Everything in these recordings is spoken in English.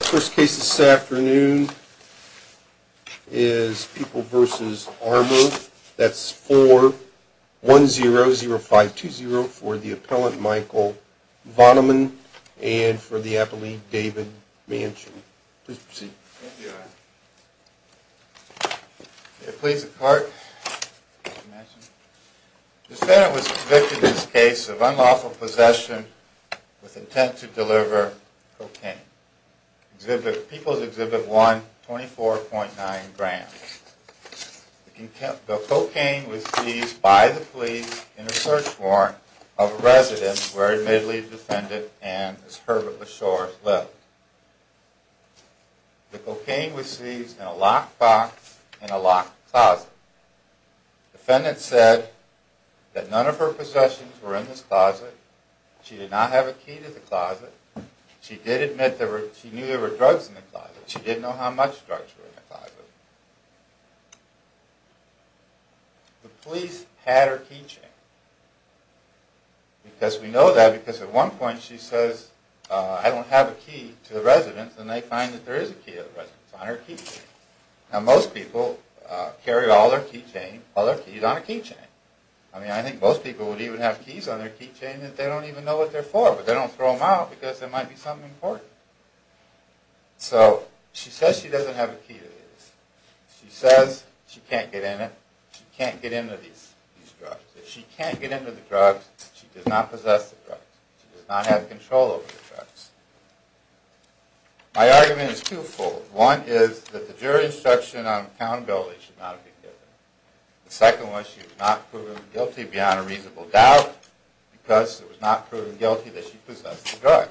First case this afternoon is People v. Armor. That's 4-1-0-0-5-2-0 for the appellant Michael Vonnemann and for the appellee David Manchin. Please proceed. The defendant was convicted in this case of unlawful possession with intent to deliver cocaine. People's Exhibit 1, 24.9 grams. The cocaine was seized by the police in a search warrant of a residence where admittedly the defendant and Ms. Herbert Beshore lived. The cocaine was seized in a locked box in a locked closet. The defendant said that none of her possessions were in this closet. She did not have a key to the closet. She did admit that she knew there were drugs in the closet, but she didn't know how much drugs were in the closet. The police had her keychain. We know that because at one point she says, I don't have a key to the residence, and they find that there is a key to the residence on her keychain. Most people carry all their keys on a keychain. I think most people would even have keys on their keychain that they don't even know what they are for, but they don't throw them out because there might be something important. So she says she doesn't have a key to the residence. She says she can't get in it. She can't get into these drugs. If she can't get into the drugs, she does not possess the drugs. She does not have control over the drugs. My argument is twofold. One is that the jury instruction on accountability should not be given. The second one is that she was not proven guilty beyond a reasonable doubt because it was not proven guilty that she possessed the drugs.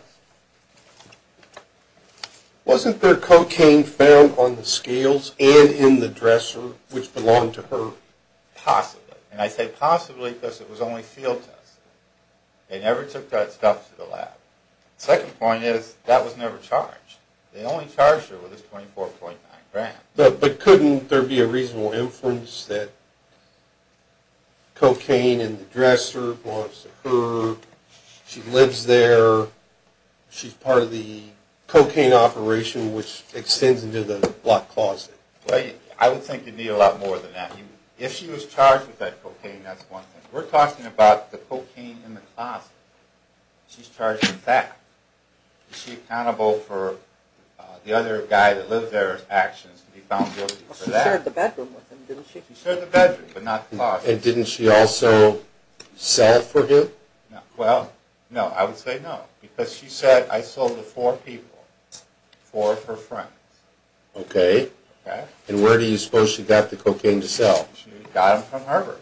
Wasn't there cocaine found on the scales and in the dresser which belonged to her? Possibly, and I say possibly because it was only field tested. They never took that stuff to the lab. The second point is that was never charged. They only charged her with this 24.9 grams. But couldn't there be a reasonable inference that cocaine in the dresser belongs to her? She lives there. She's part of the cocaine operation which extends into the block closet. Well, I would think you'd need a lot more than that. If she was charged with that cocaine, that's one thing. We're talking about the cocaine in the closet. She's charged with that. Is she accountable for the other guy that lives there's actions to be found guilty for that? She shared the bedroom with him, didn't she? She shared the bedroom, but not the closet. And didn't she also sell for him? Well, no. I would say no. Because she said, I sold to four people. Four of her friends. Okay, and where do you suppose she got the cocaine to sell? She got it from Herbert.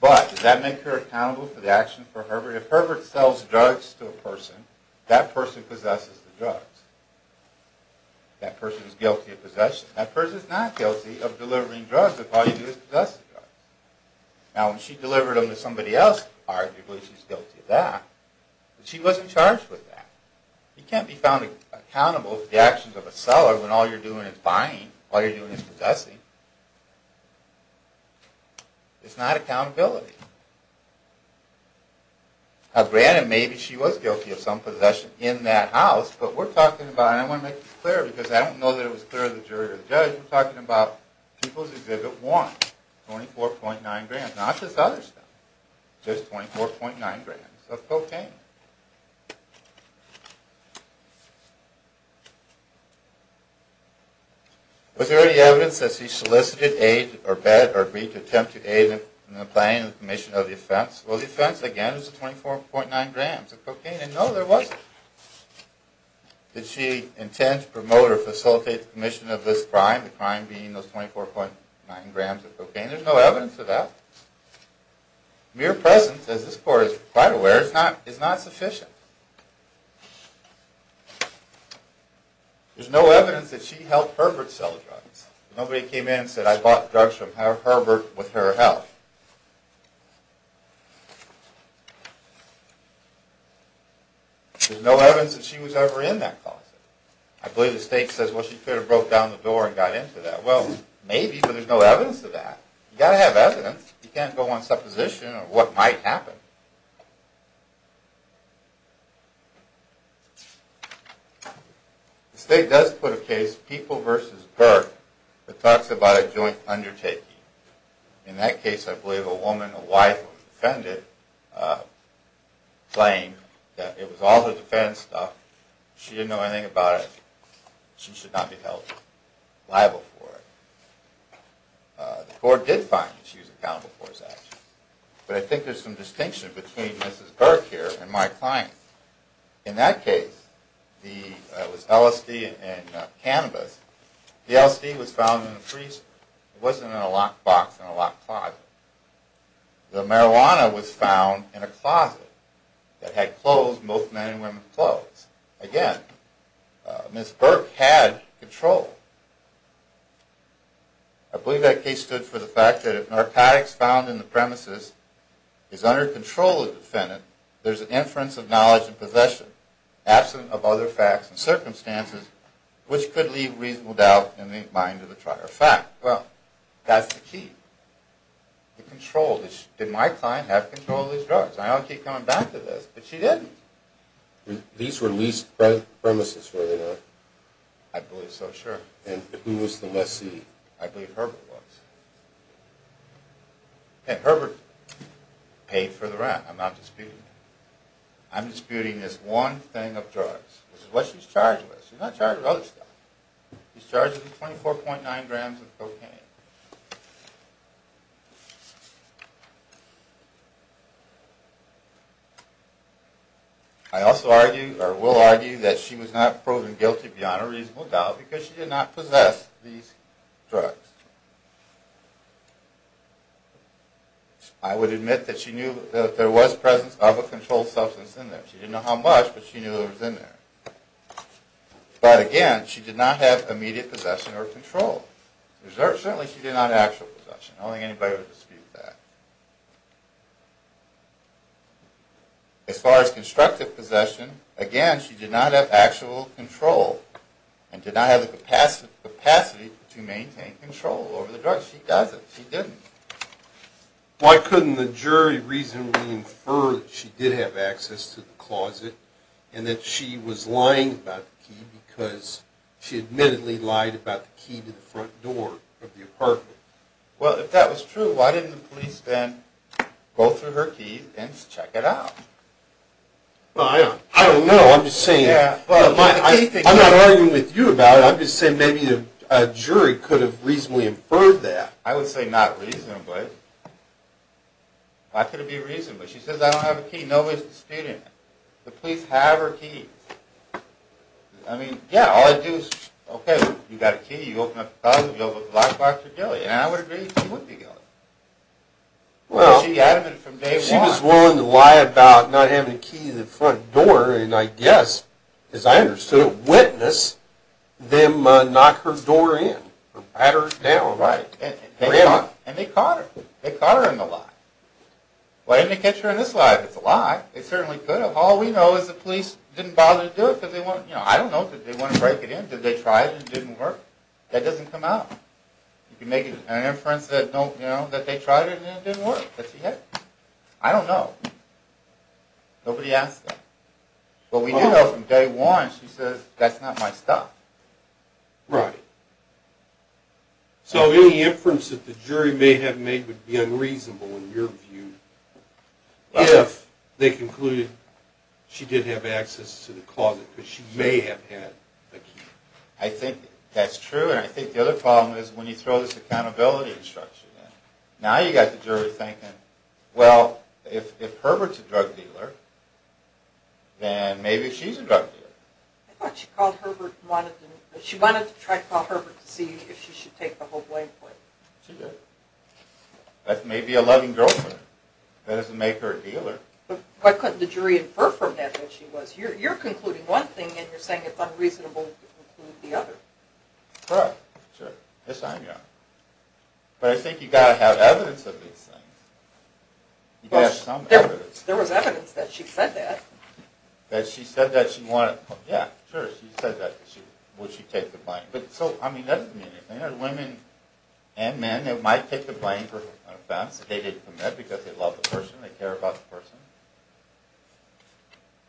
But does that make her accountable for the actions of Herbert? If Herbert sells drugs to a person, that person possesses the drugs. That person is guilty of possession. That person is not guilty of delivering drugs if all you do is possess the drugs. Now, when she delivered them to somebody else, arguably she's guilty of that. But she wasn't charged with that. You can't be found accountable for the actions of a seller when all you're doing is buying. All you're doing is possessing. It's not accountability. Now, granted, maybe she was guilty of some possession in that house, but we're talking about, and I want to make this clear because I don't know that it was clear to the jury or the judge, we're talking about People's Exhibit 1. 24.9 grand. Not this other stuff. Just 24.9 grand of cocaine. Was there any evidence that she solicited, aided, or begged, or agreed to attempt to aid in the planning and commission of the offense? Well, the offense, again, is 24.9 grams of cocaine. And no, there wasn't. Did she intend to promote or facilitate the commission of this crime, the crime being those 24.9 grams of cocaine? There's no evidence of that. Mere presence, as this court is quite aware, is not sufficient. There's no evidence that she helped Herbert sell the drugs. Nobody came in and said, I bought drugs from Herbert with her help. There's no evidence that she was ever in that closet. I believe the state says, well, she could have broke down the door and got into that. Well, maybe, but there's no evidence of that. You've got to have evidence. You can't go on supposition of what might happen. The state does put a case, People v. Burke, that talks about a joint undertaking. In that case, I believe a woman, a wife, was defended, claiming that it was all her defense stuff. She didn't know anything about it. She should not be held liable for it. The court did find that she was accountable for this action. But I think there's some distinction between Mrs. Burke here and my client. In that case, it was LSD and cannabis. The LSD was found in the freezer. It wasn't in a locked box in a locked closet. The marijuana was found in a closet that had clothes, both men and women's clothes. Again, Mrs. Burke had control. I believe that case stood for the fact that if narcotics found in the premises is under control of the defendant, there's an inference of knowledge and possession, absent of other facts and circumstances, which could leave reasonable doubt in the mind of the trial. In fact, well, that's the key. The control. Did my client have control of these drugs? I don't keep coming back to this, but she didn't. These were leased premises, were they not? I believe so, sure. And who was the lessee? I believe Herbert was. And Herbert paid for the rent. I'm not disputing that. I'm disputing this one thing of drugs, which is what she's charged with. She's not charged with other stuff. She's charged with 24.9 grams of cocaine. I also argue, or will argue, that she was not proven guilty beyond a reasonable doubt because she did not possess these drugs. I would admit that she knew that there was presence of a controlled substance in there. She didn't know how much, but she knew it was in there. But again, she did not have immediate possession or control. Certainly she did not have actual possession. I don't think anybody would dispute that. As far as constructive possession, again, she did not have actual control and did not have the capacity to maintain control over the drugs. She doesn't. She didn't. Why couldn't the jury reasonably infer that she did have access to the closet and that she was lying about the key because she admittedly lied about the key to the front door of the apartment? Well, if that was true, why didn't the police then go through her keys and check it out? I don't know. I'm just saying. I'm not arguing with you about it. I'm just saying maybe a jury could have reasonably inferred that. I would say not reasonably. Why could it be reasonably? She says, I don't have a key. Nobody's disputing it. The police have her keys. I mean, yeah, all I do is, okay, you've got a key. You open up the closet. You open up the lockbox. You're guilty. And I would agree she would be guilty because she admitted from day one. She was willing to lie about not having the key to the front door and I guess, as I understood it, witness them knock her door in or pat her down. Right. And they caught her. They caught her in the lie. Why didn't they catch her in this lie? If it's a lie, they certainly could have. All we know is the police didn't bother to do it because they want, you know, I don't know, did they want to break it in? Did they try it and it didn't work? That doesn't come out. You can make an inference that, you know, that they tried it and it didn't work, that she hid it. I don't know. Nobody asked them. But we know from day one she says, that's not my stuff. Right. So any inference that the jury may have made would be unreasonable in your view if they concluded she did have access to the closet because she may have had the key. I think that's true and I think the other problem is when you throw this accountability structure in, now you got the jury thinking, well, if Herbert's a drug dealer, then maybe she's a drug dealer. I thought she called Herbert and wanted to, she wanted to try to call Herbert to see if she should take the whole blame for it. She did. That may be a loving girlfriend. That doesn't make her a dealer. Why couldn't the jury infer from that what she was? You're concluding one thing and you're saying it's unreasonable to conclude the other. Correct. Sure. Yes, I am. But I think you got to have evidence of these things. You got to have some evidence. There was evidence that she said that. That she said that she wanted, yeah, sure, she said that, would she take the blame. But so, I mean, that doesn't mean anything. There are women and men that might take the blame for an offense that they didn't commit because they love the person, they care about the person.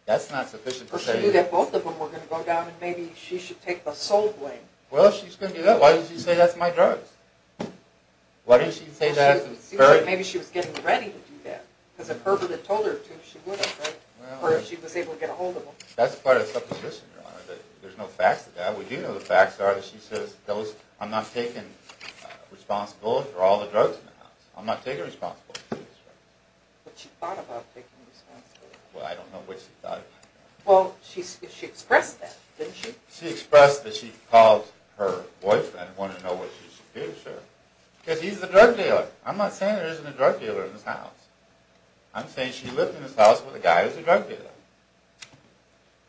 That's not sufficient to say. Or she knew that both of them were going to go down and maybe she should take the sole blame. Well, if she's going to do that, why did she say that's my drugs? Why did she say that? It seems like maybe she was getting ready to do that because if Herbert had told her to, she would have, right, or if she was able to get a hold of him. That's part of the supposition, Your Honor, that there's no facts to that. We do know the facts are that she says I'm not taking responsibility for all the drugs in the house. I'm not taking responsibility. But she thought about taking responsibility. Well, I don't know what she thought about that. Well, she expressed that, didn't she? She expressed that she called her boyfriend and wanted to know what she should do, sure. Because he's the drug dealer. I'm not saying there isn't a drug dealer in this house. I'm saying she lived in this house with a guy who's a drug dealer.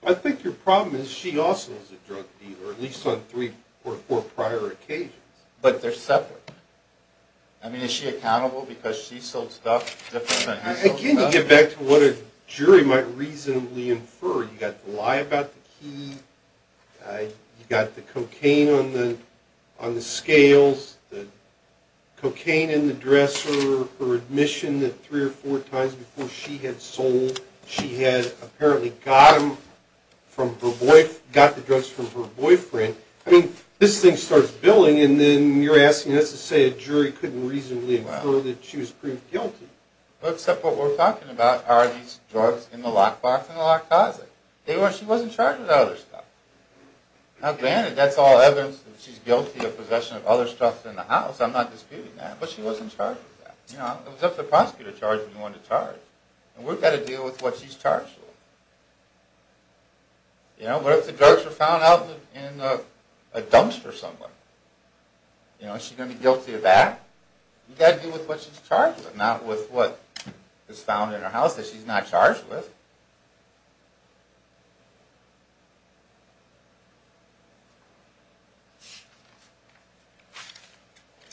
I think your problem is she also is a drug dealer, at least on three or four prior occasions. But they're separate. I mean, is she accountable because she sold stuff different than he sold stuff? Again, you get back to what a jury might reasonably infer. You've got the lie about the key, you've got the cocaine on the scales, the cocaine in the dresser, her admission that three or four times before she had sold, she had apparently got the drugs from her boyfriend. I mean, this thing starts billing, and then you're asking us to say a jury couldn't reasonably infer that she was proved guilty. Well, except what we're talking about are these drugs in the lockbox in the lock closet. She wasn't charged with other stuff. Now granted, that's all evidence that she's guilty of possession of other stuff in the house. I'm not disputing that. But she wasn't charged with that. It was up to the prosecutor to charge if he wanted to charge. And we've got to deal with what she's charged with. What if the drugs were found out in a dumpster somewhere? Is she going to be guilty of that? You've got to deal with what she's charged with, not with what is found in her house that she's not charged with.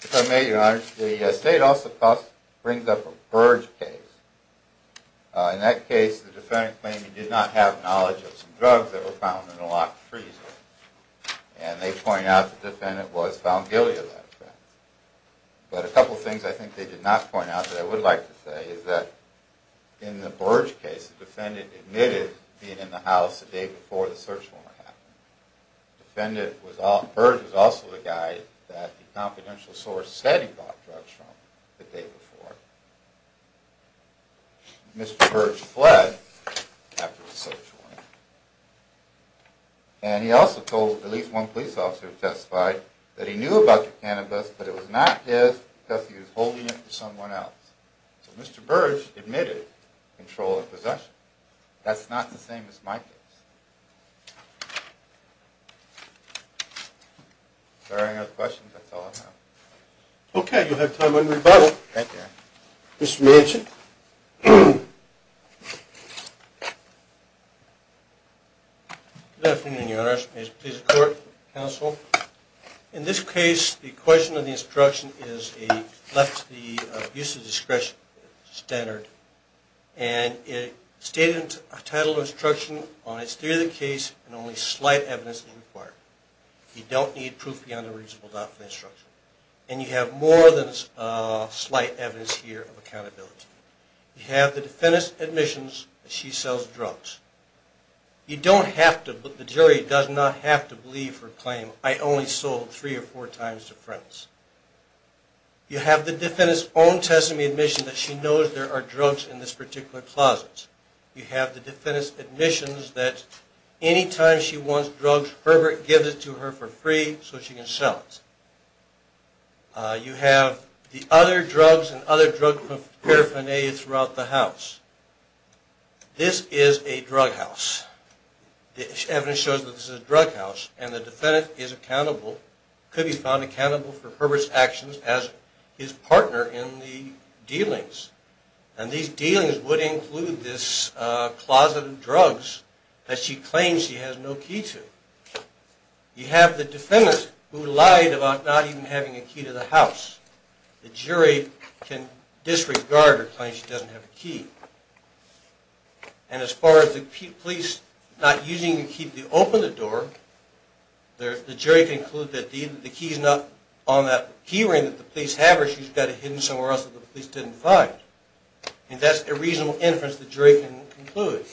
If I may, Your Honor, the state also brings up a Burge case. In that case, the defendant claimed he did not have knowledge of some drugs that were found in a locked freezer. And they point out the defendant was found guilty of that offense. But a couple of things I think they did not point out that I would like to say is that in the Burge case, the defendant admitted being in the house the day before the search warrant happened. Burge was also the guy that the confidential source said he bought drugs from the day before. Mr. Burge fled after the search warrant. And he also told at least one police officer who testified that he knew about the cannabis, but it was not his because he was holding it for someone else. So Mr. Burge admitted controlling possession. That's not the same as my case. If there are any other questions, that's all I have. Okay, you'll have time for rebuttal. Thank you. Mr. Manchin. Good afternoon, Your Honor. May it please the Court, Counsel. In this case, the question on the instruction is a left to the use of discretion standard. And it stated in the title of the instruction, on its theory of the case, and only slight evidence is required. You don't need proof beyond a reasonable doubt for the instruction. And you have more than slight evidence here of accountability. You have the defendant's admissions that she sells drugs. You don't have to, the jury does not have to believe her claim, I only sold three or four times to friends. You have the defendant's own testimony admission that she knows there are drugs in this particular closet. You have the defendant's admissions that any time she wants drugs, Herbert gives it to her for free so she can sell it. You have the other drugs and other drug paraphernalia throughout the house. This is a drug house. The evidence shows that this is a drug house, and the defendant is accountable, could be found accountable, for Herbert's actions as his partner in the dealings. And these dealings would include this closet of drugs that she claims she has no key to. You have the defendant who lied about not even having a key to the house. The jury can disregard her claim she doesn't have a key. And as far as the police not using the key to open the door, the jury can conclude that the key is not on that key ring that the police have, or she's got it hidden somewhere else that the police didn't find. And that's a reasonable inference the jury can conclude.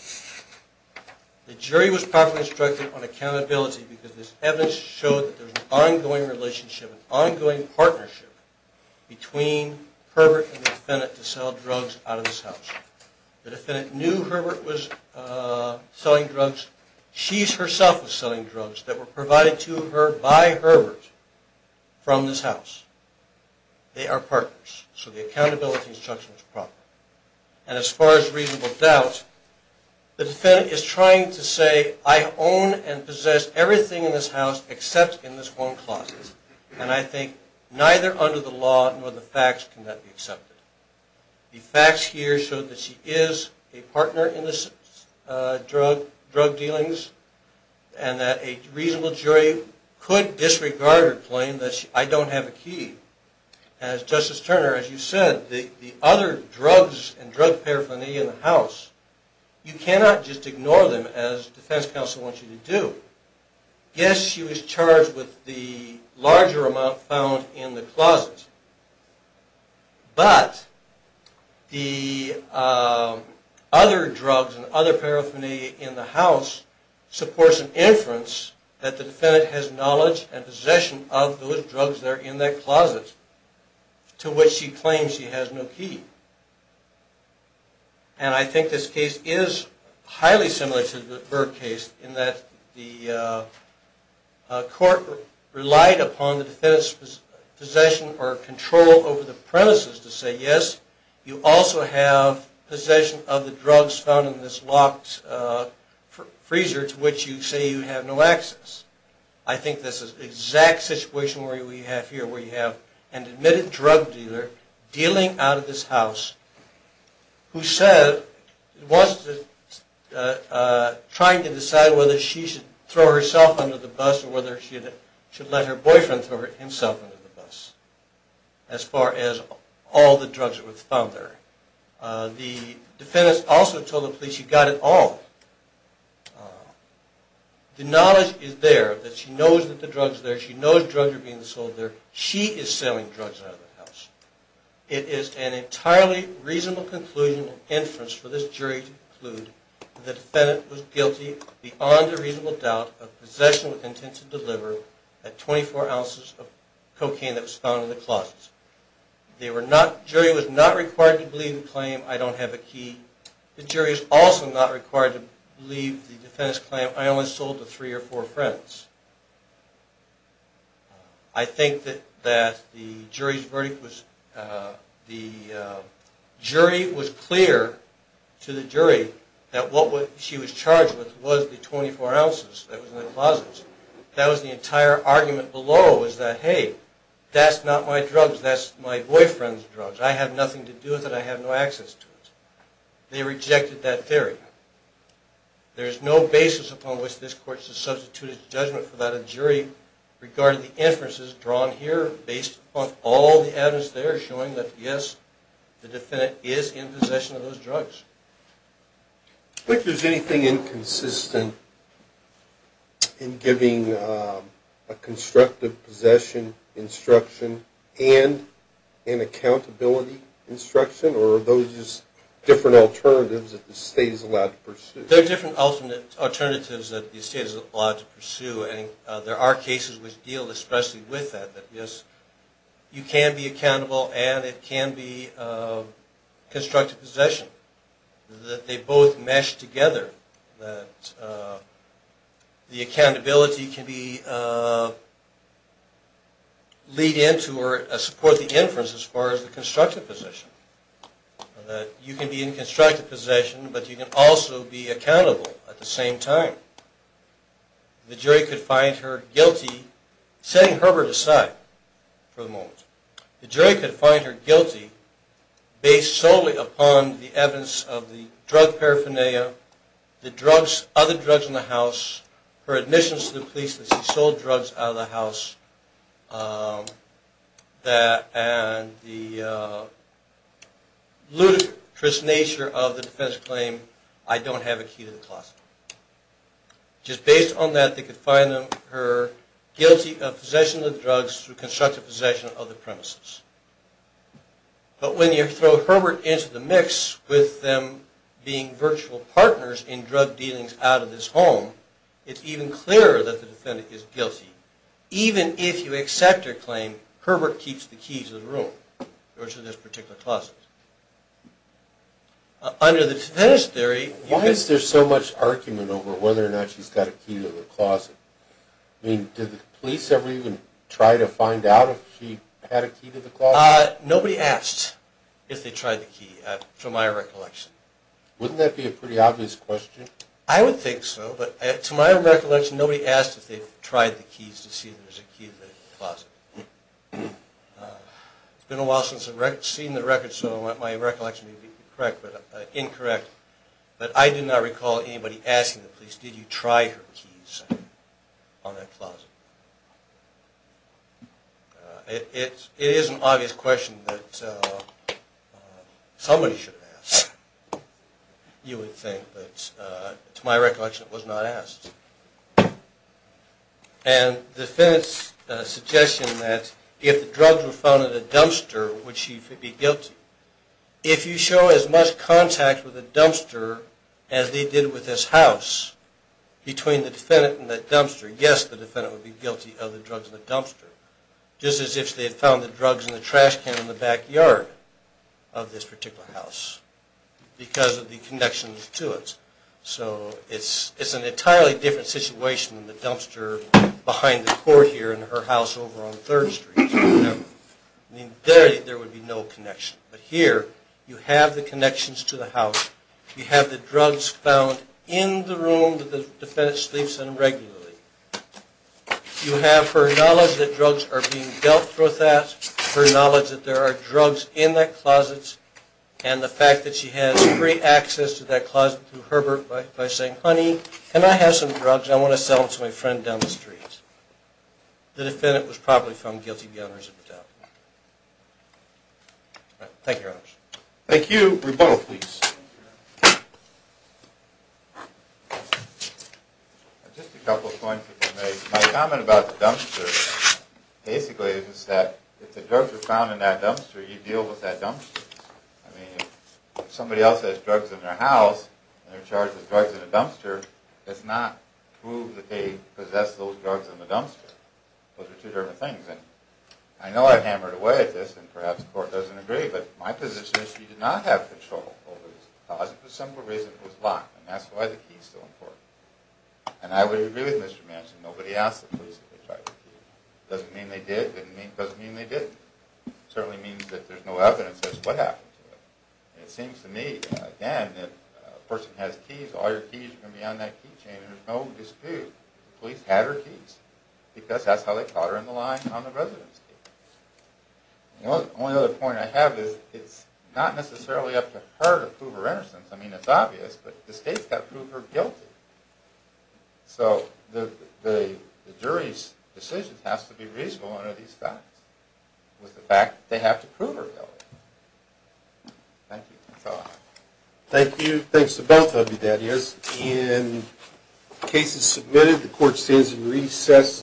The jury was properly instructed on accountability because this evidence showed that there's an ongoing relationship, an ongoing partnership between Herbert and the defendant to sell drugs out of this house. The defendant knew Herbert was selling drugs. She herself was selling drugs that were provided to her by Herbert from this house. They are partners, so the accountability instruction is proper. And as far as reasonable doubt, the defendant is trying to say, I own and possess everything in this house except in this one closet. And I think neither under the law nor the facts can that be accepted. The facts here show that she is a partner in the drug dealings, and that a reasonable jury could disregard her claim that I don't have a key. As Justice Turner, as you said, the other drugs and drug paraphernalia in the house, you cannot just ignore them as defense counsel wants you to do. Yes, she was charged with the larger amount found in the closet, but the other drugs and other paraphernalia in the house supports an inference that the defendant has knowledge and possession of those drugs that are in that closet, to which she claims she has no key. And I think this case is highly similar to the Bird case in that the court relied upon the defendant's possession or control over the premises to say, yes, you also have possession of the drugs found in this locked freezer to which you say you have no access. I think this is the exact situation we have here, where you have an admitted drug dealer dealing out of this house who said, was trying to decide whether she should throw herself under the bus or whether she should let her boyfriend throw himself under the bus, as far as all the drugs that were found there. The defendant also told the police she got it all. The knowledge is there that she knows that the drugs are there, she knows drugs are being sold there. She is selling drugs out of the house. It is an entirely reasonable conclusion and inference for this jury to conclude that the defendant was guilty beyond a reasonable doubt of possession with intent to deliver the 24 ounces of cocaine that was found in the closets. The jury was not required to believe the claim, I don't have a key. The jury is also not required to believe the defendant's claim, I only sold to three or four friends. I think that the jury was clear to the jury that what she was charged with was the 24 ounces that was in the closets. That was the entire argument below was that, hey, that's not my drugs, that's my boyfriend's drugs. I have nothing to do with it, I have no access to it. They rejected that theory. There is no basis upon which this court should substitute its judgment for that a jury regarded the inferences drawn here based upon all the evidence there showing that, yes, the defendant is in possession of those drugs. If there's anything inconsistent in giving a constructive possession instruction and an accountability instruction or are those just different alternatives that the state is allowed to pursue? There are different alternatives that the state is allowed to pursue and there are cases which deal especially with that, that, yes, you can be accountable and it can be constructive possession, that they both mesh together, that the accountability can lead into or support the inference as far as the constructive possession, that you can be in constructive possession but you can also be accountable at the same time. The jury could find her guilty, setting Herbert aside for the moment, the jury could find her guilty based solely upon the evidence of the drug paraphernalia, the drugs, other drugs in the house, her admissions to the police that she sold drugs out of the house, and the ludicrous nature of the defendant's claim, I don't have a key to the closet. Just based on that, they could find her guilty of possession of drugs through constructive possession of the premises. But when you throw Herbert into the mix with them being virtual partners in drug dealings out of this home, it's even clearer that the defendant is guilty, even if you accept her claim, Herbert keeps the keys to the room, or to this particular closet. Under the defendant's theory... Why is there so much argument over whether or not she's got a key to the closet? I mean, did the police ever even try to find out if she had a key to the closet? Nobody asked if they tried the key, to my recollection. Wouldn't that be a pretty obvious question? I would think so, but to my recollection, nobody asked if they tried the keys to see if there was a key to the closet. It's been a while since I've seen the records, so my recollection may be incorrect, but I do not recall anybody asking the police, did you try her keys on that closet? It is an obvious question that somebody should have asked, you would think, but to my recollection, it was not asked. And the defendant's suggestion that, if the drugs were found in the dumpster, would she be guilty? If you show as much contact with the dumpster as they did with this house, between the defendant and the dumpster, yes, the defendant would be guilty of the drugs in the dumpster, just as if they had found the drugs in the trash can in the backyard of this particular house, because of the connections to it. So it's an entirely different situation than the dumpster behind the court here, and her house over on 3rd Street. There would be no connection. But here, you have the connections to the house, you have the drugs found in the room that the defendant sleeps in regularly. You have her knowledge that drugs are being dealt with that, her knowledge that there are drugs in that closet, and the fact that she has free access to that closet through Herbert, by saying, honey, can I have some drugs? I want to sell them to my friend down the street. The defendant was probably found guilty beyond reason to doubt. Thank you, Your Honor. Thank you. Rebuttal, please. Just a couple of points that were made. My comment about the dumpster, basically, is that if the drugs are found in that dumpster, you deal with that dumpster. I mean, if somebody else has drugs in their house, and they're charged with drugs in a dumpster, it's not true that they possess those drugs in the dumpster. Those are two different things. And I know I hammered away at this, and perhaps the court doesn't agree, but my position is she did not have control over this because of the simple reason it was locked, and that's why the key is still in court. And I would agree with Mr. Manchin. Nobody asked the police if they tried to keep it. It doesn't mean they did. It doesn't mean they didn't. It certainly means that there's no evidence as to what happened to it. And it seems to me, again, if a person has keys, all your keys are going to be on that key chain, and there's no dispute. The police had her keys, because that's how they caught her in the line on the residence key. The only other point I have is it's not necessarily up to her to prove her innocence. I mean, it's obvious, but the state's got to prove her guilty. So the jury's decision has to be reasonable under these facts, with the fact that they have to prove her guilty. Thank you. That's all I have. Thank you. Thanks to both of you, Darius. In cases submitted, the court stands in recess.